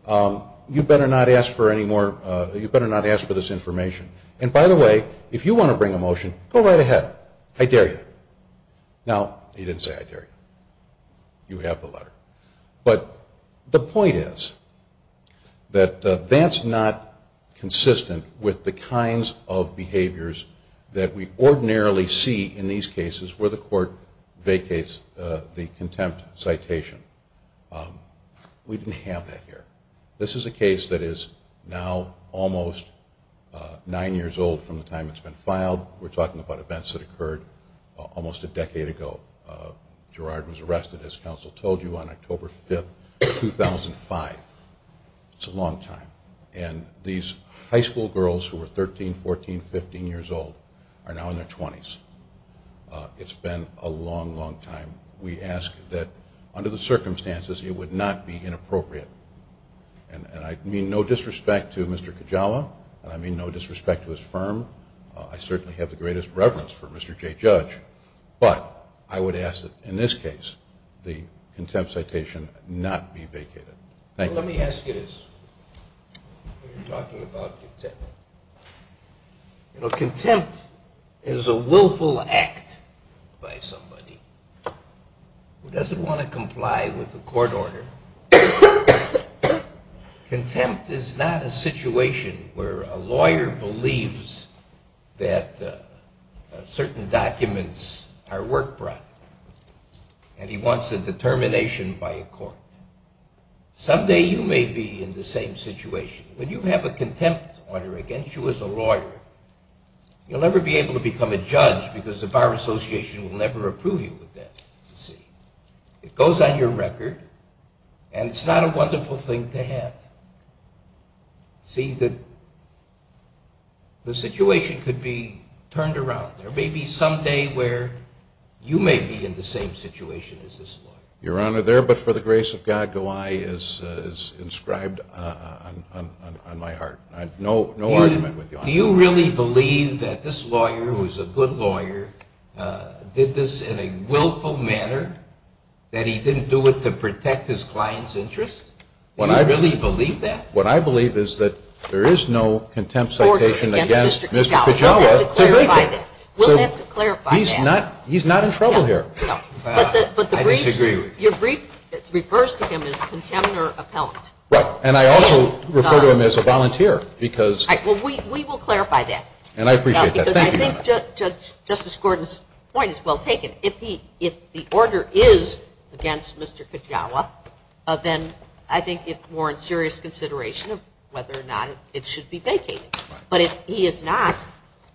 you better not ask for this information. And by the way, if you want to bring a motion, go right ahead. I dare you. Now, he didn't say I dare you. You have the letter. But the point is that that's not consistent with the kinds of behaviors that we ordinarily see in these cases where the court vacates the contempt citation. We didn't have that here. This is a case that is now almost nine years old from the time it's been filed. We're talking about events that occurred almost a decade ago. Gerard was arrested, as counsel told you, on October 5th, 2005. It's a long time. And these high school girls who were 13, 14, 15 years old are now in their 20s. It's been a long, long time. We ask that, under the circumstances, it would not be inappropriate. And I mean no disrespect to Mr. Kajawa, and I mean no disrespect to his firm. I certainly have the greatest reverence for Mr. J. Judge. But I would ask that, in this case, the contempt citation not be vacated. Thank you. Let me ask you this. You're talking about contempt. You know, contempt is a willful act by somebody who doesn't want to comply with the court order. Contempt is not a situation where a lawyer believes that certain documents are work brought and he wants a determination by a court. Someday you may be in the same situation. When you have a contempt order against you as a lawyer, you'll never be able to become a judge because the Bar Association will never approve you of that. It goes on your record, and it's not a wonderful thing to have. See, the situation could be turned around. There may be some day where you may be in the same situation as this lawyer. Your Honor, there but for the grace of God, Gawai is inscribed on my heart. No argument with you on that. Do you really believe that this lawyer, who is a good lawyer, did this in a willful manner, that he didn't do it to protect his client's interest? Do you really believe that? What I believe is that there is no contempt citation against Mr. Kajawa to vacate. We'll have to clarify that. He's not in trouble here. I disagree with you. Your brief refers to him as a contemptor appellant. Right, and I also refer to him as a volunteer. We will clarify that. And I appreciate that. Thank you, Your Honor. I think Justice Gordon's point is well taken. If the order is against Mr. Kajawa, then I think it warrants serious consideration of whether or not it should be vacated. But if he is not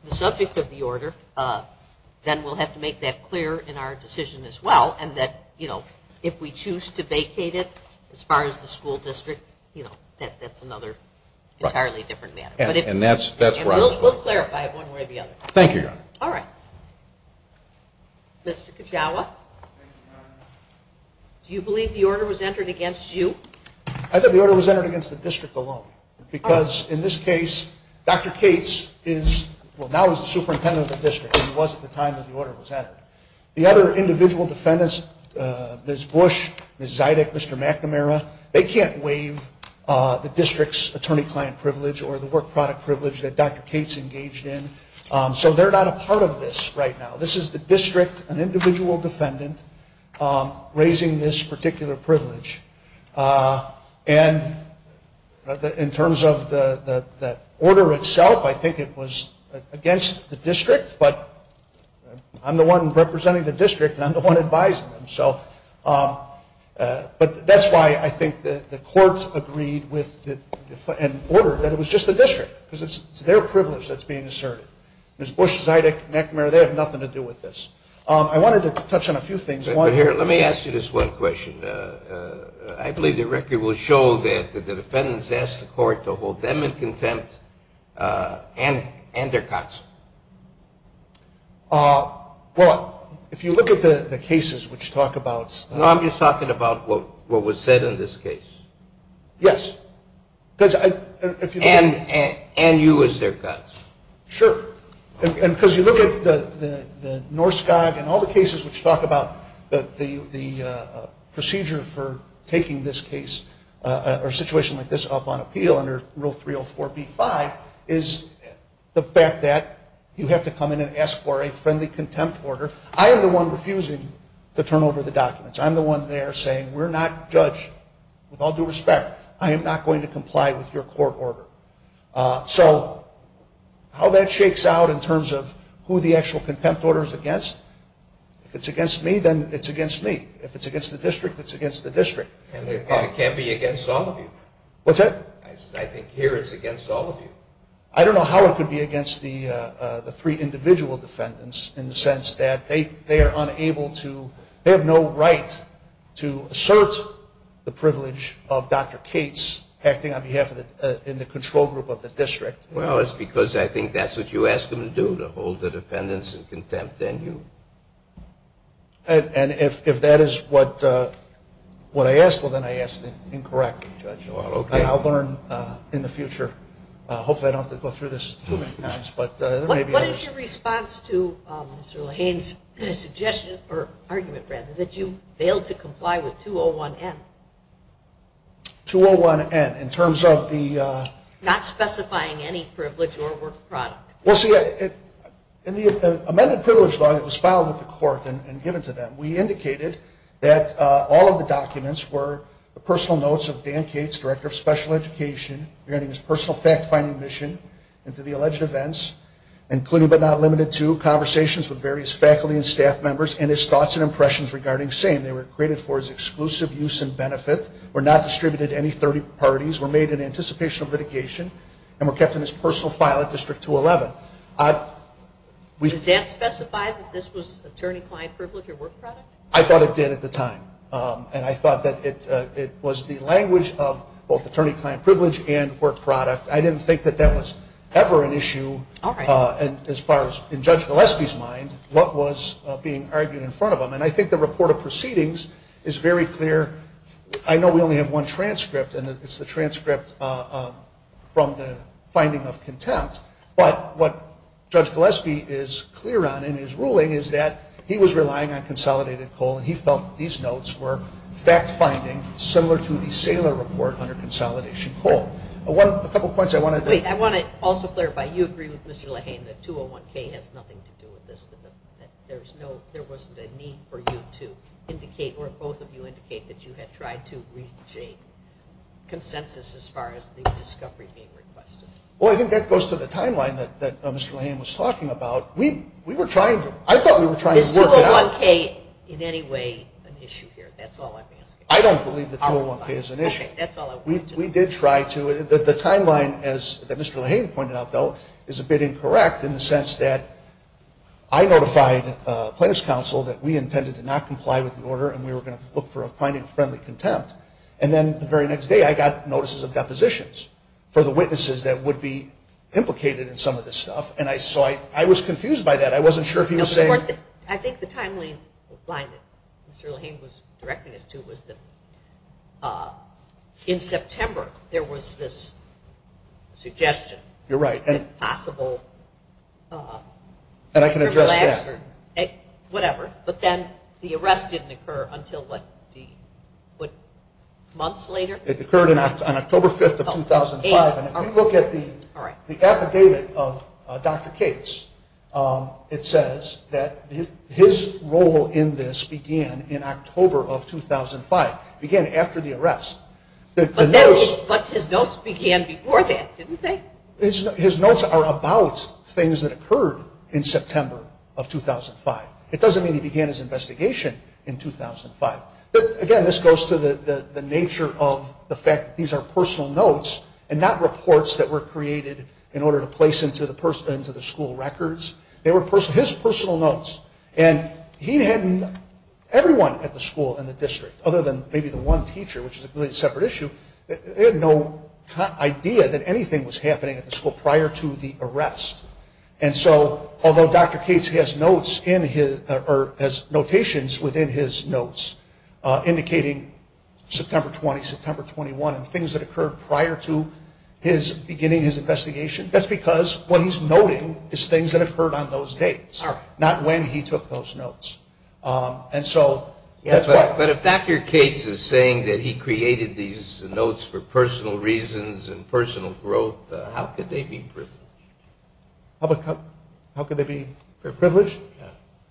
the subject of the order, then we'll have to make that clear in our decision as well, and that if we choose to vacate it as far as the school district, that's another entirely different matter. And we'll clarify it one way or the other. Thank you, Your Honor. All right. Mr. Kajawa, do you believe the order was entered against you? I think the order was entered against the district alone. Because in this case, Dr. Cates is, well, now he's the superintendent of the district. He was at the time that the order was entered. The other individual defendants, Ms. Bush, Ms. Zydek, Mr. McNamara, they can't waive the district's attorney-client privilege or the work product privilege that Dr. Cates engaged in. So they're not a part of this right now. This is the district, an individual defendant, raising this particular privilege. And in terms of the order itself, I think it was against the district, but I'm the one representing the district and I'm the one advising them. But that's why I think the court agreed with the order that it was just the district, because it's their privilege that's being asserted. Ms. Bush, Zydek, McNamara, they have nothing to do with this. I wanted to touch on a few things. But here, let me ask you this one question. I believe the record will show that the defendants asked the court to hold them in contempt and their counsel. Well, if you look at the cases which talk about ‑‑ No, I'm just talking about what was said in this case. Yes. And you as their counsel. Sure. And because you look at the Norskog and all the cases which talk about the procedure for taking this case or situation like this up on appeal under Rule 304B5 is the fact that you have to come in and ask for a friendly contempt order. I am the one refusing to turn over the documents. I'm the one there saying we're not judge. With all due respect, I am not going to comply with your court order. So how that shakes out in terms of who the actual contempt order is against, if it's against me, then it's against me. If it's against the district, it's against the district. And it can be against all of you. What's that? I think here it's against all of you. I don't know how it could be against the three individual defendants in the sense that they are unable to ‑‑ acting on behalf of the control group of the district. Well, it's because I think that's what you asked them to do, to hold the defendants in contempt. And if that is what I asked, well, then I asked incorrectly, Judge. Well, okay. I'll learn in the future. Hopefully I don't have to go through this too many times. What is your response to Mr. Lahane's suggestion, or argument rather, that you failed to comply with 201N? 201N in terms of the ‑‑ Not specifying any privilege or work product. Well, see, in the amended privilege law that was filed with the court and given to them, we indicated that all of the documents were personal notes of Dan Cates, Director of Special Education, regarding his personal fact‑finding mission and to the alleged events, including but not limited to conversations with various faculty and staff members and his thoughts and impressions regarding SANE. They were created for his exclusive use and benefit, were not distributed to any 30 parties, were made in anticipation of litigation, and were kept in his personal file at District 211. Does that specify that this was attorney‑client privilege or work product? I thought it did at the time. And I thought that it was the language of both attorney‑client privilege and work product. I didn't think that that was ever an issue. As far as in Judge Gillespie's mind, what was being argued in front of him? And I think the report of proceedings is very clear. I know we only have one transcript, and it's the transcript from the finding of contempt. But what Judge Gillespie is clear on in his ruling is that he was relying on consolidated coal, and he felt that these notes were fact‑finding, similar to the Saylor report under consolidation coal. A couple points I want to make. I want to also clarify. You agree with Mr. Lahane that 201K has nothing to do with this, that there wasn't a need for you to indicate or both of you indicate that you had tried to reach a consensus as far as the discovery being requested. Well, I think that goes to the timeline that Mr. Lahane was talking about. We were trying to ‑‑ I thought we were trying to work it out. Is 201K in any way an issue here? That's all I'm asking. I don't believe that 201K is an issue. Okay, that's all I wanted to know. We did try to. The timeline, as Mr. Lahane pointed out, though, is a bit incorrect in the sense that I notified plaintiff's counsel that we intended to not comply with the order and we were going to look for a finding of friendly contempt. And then the very next day I got notices of depositions for the witnesses that would be implicated in some of this stuff. And so I was confused by that. I wasn't sure if he was saying ‑‑ I think the timeline that Mr. Lahane was directing us to was that in September there was this suggestion. You're right. And possible ‑‑ And I can address that. Whatever. But then the arrest didn't occur until, what, months later? It occurred on October 5th of 2005. And if you look at the affidavit of Dr. Cates, it says that his role in this began in October of 2005, began after the arrest. But his notes began before that, didn't they? His notes are about things that occurred in September of 2005. It doesn't mean he began his investigation in 2005. But, again, this goes to the nature of the fact that these are personal notes and not reports that were created in order to place into the school records. They were his personal notes. And he hadn't ‑‑ everyone at the school and the district, other than maybe the one teacher, which is a really separate issue, they had no idea that anything was happening at the school prior to the arrest. And so although Dr. Cates has notes in his ‑‑ or has notations within his notes indicating September 20, September 21, and things that occurred prior to his beginning his investigation, that's because what he's noting is things that occurred on those dates, not when he took those notes. And so that's why. But if Dr. Cates is saying that he created these notes for personal reasons and personal growth, how could they be privileged? How could they be privileged?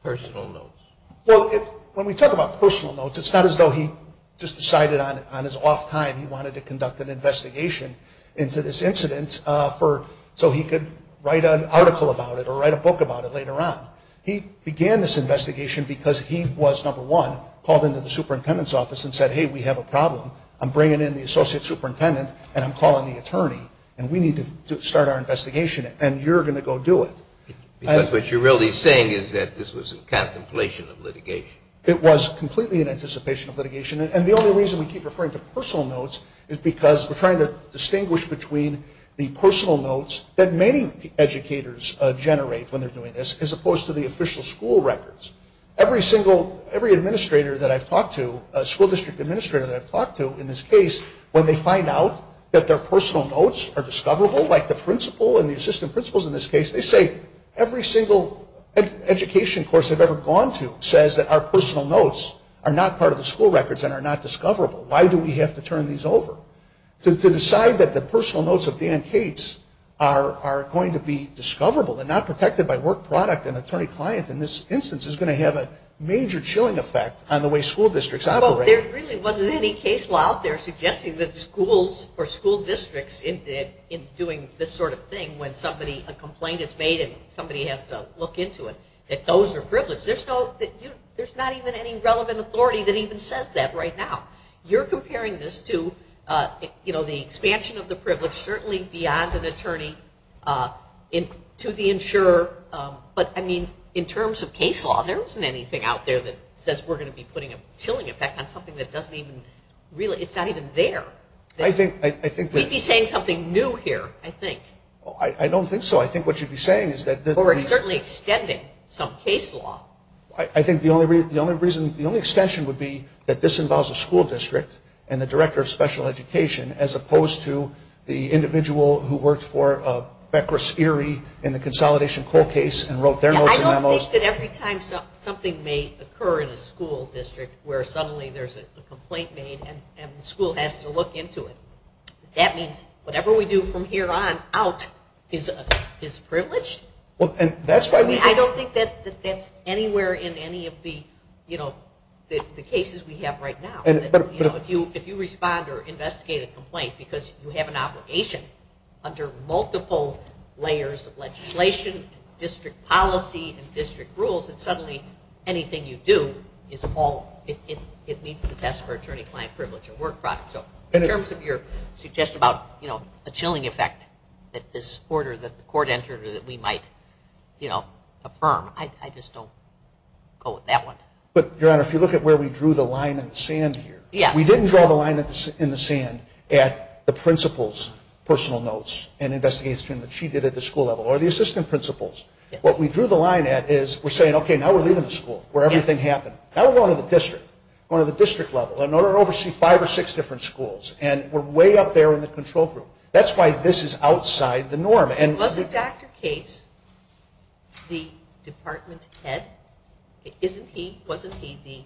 Personal notes. Well, when we talk about personal notes, it's not as though he just decided on his off time he wanted to conduct an investigation into this incident so he could write an article about it or write a book about it later on. He began this investigation because he was, number one, called into the superintendent's office and said, hey, we have a problem. I'm bringing in the associate superintendent and I'm calling the attorney and we need to start our investigation and you're going to go do it. It was completely in anticipation of litigation. And the only reason we keep referring to personal notes is because we're trying to distinguish between the personal notes that many educators generate when they're doing this as opposed to the official school records. Every single, every administrator that I've talked to, school district administrator that I've talked to in this case, when they find out that their personal notes are discoverable, like the principal and the assistant principals in this case, they say every single education course I've ever gone to says that our personal notes are not part of the school records and are not discoverable. Why do we have to turn these over? To decide that the personal notes of Dan Cates are going to be discoverable and not protected by work product and attorney client in this instance is going to have a major chilling effect on the way school districts operate. Well, there really wasn't any case law out there suggesting that schools or school districts in doing this sort of thing when a complaint is made and somebody has to look into it, that those are privileged. There's not even any relevant authority that even says that right now. You're comparing this to the expansion of the privilege, certainly beyond an attorney to the insurer. But, I mean, in terms of case law, there wasn't anything out there that says we're going to be putting a chilling effect on something that doesn't even really, it's not even there. We'd be saying something new here, I think. I don't think so. I think what you'd be saying is that we're certainly extending some case law. I think the only reason, the only extension would be that this involves a school district and the director of special education as opposed to the individual who worked for Bekris Erie in the Consolidation Coal case and wrote their notes and memos. I don't think that every time something may occur in a school district where suddenly there's a complaint made and the school has to look into it, that means whatever we do from here on out is privileged. I don't think that that's anywhere in any of the cases we have right now. If you respond or investigate a complaint because you have an obligation under multiple layers of legislation, district policy, and district rules, then suddenly anything you do is all, it meets the test for attorney-client privilege and work product. So in terms of your suggestion about a chilling effect that this court entered or that we might affirm, I just don't go with that one. Your Honor, if you look at where we drew the line in the sand here, we didn't draw the line in the sand at the principal's personal notes and investigation that she did at the school level or the assistant principal's. What we drew the line at is we're saying, okay, now we're leaving the school where everything happened. Now we're going to the district, going to the district level, and we're going to oversee five or six different schools, and we're way up there in the control group. That's why this is outside the norm. Was Dr. Cates the department head? Wasn't he the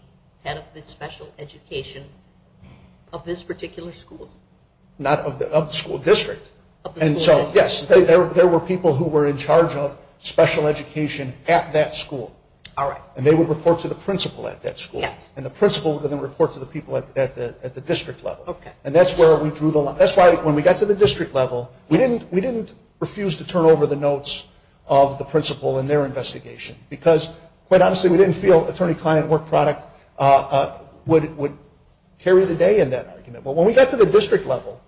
head of the special education of this particular school? Not of the school district. Yes, there were people who were in charge of special education at that school. All right. And they would report to the principal at that school, and the principal would then report to the people at the district level. Okay. And that's where we drew the line. That's why when we got to the district level, we didn't refuse to turn over the notes of the principal in their investigation because, quite honestly, we didn't feel attorney-client work product would carry the day in that argument. But when we got to the district level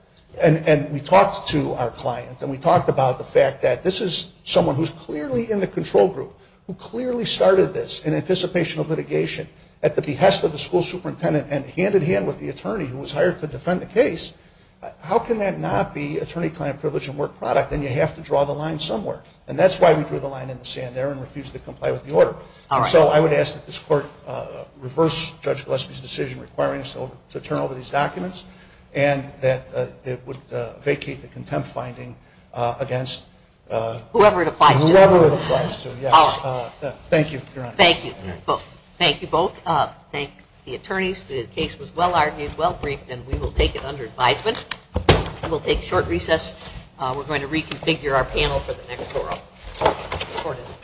and we talked to our client and we talked about the fact that this is someone who's clearly in the control group, who clearly started this in anticipation of litigation at the behest of the school superintendent and hand-in-hand with the attorney who was hired to defend the case, how can that not be attorney-client privilege and work product, and you have to draw the line somewhere? And that's why we drew the line in the sand there and refused to comply with the order. All right. And so I would ask that this court reverse Judge Gillespie's decision requiring us to turn over these documents and that it would vacate the contempt finding against whoever it applies to. Whoever it applies to. Yes. All right. Thank you, Your Honor. Thank you. Thank you both. Thank the attorneys. The case was well-argued, well-briefed, and we will take it under advisement. We will take short recess. We're going to reconfigure our panel for the next oral. Court is adjourned.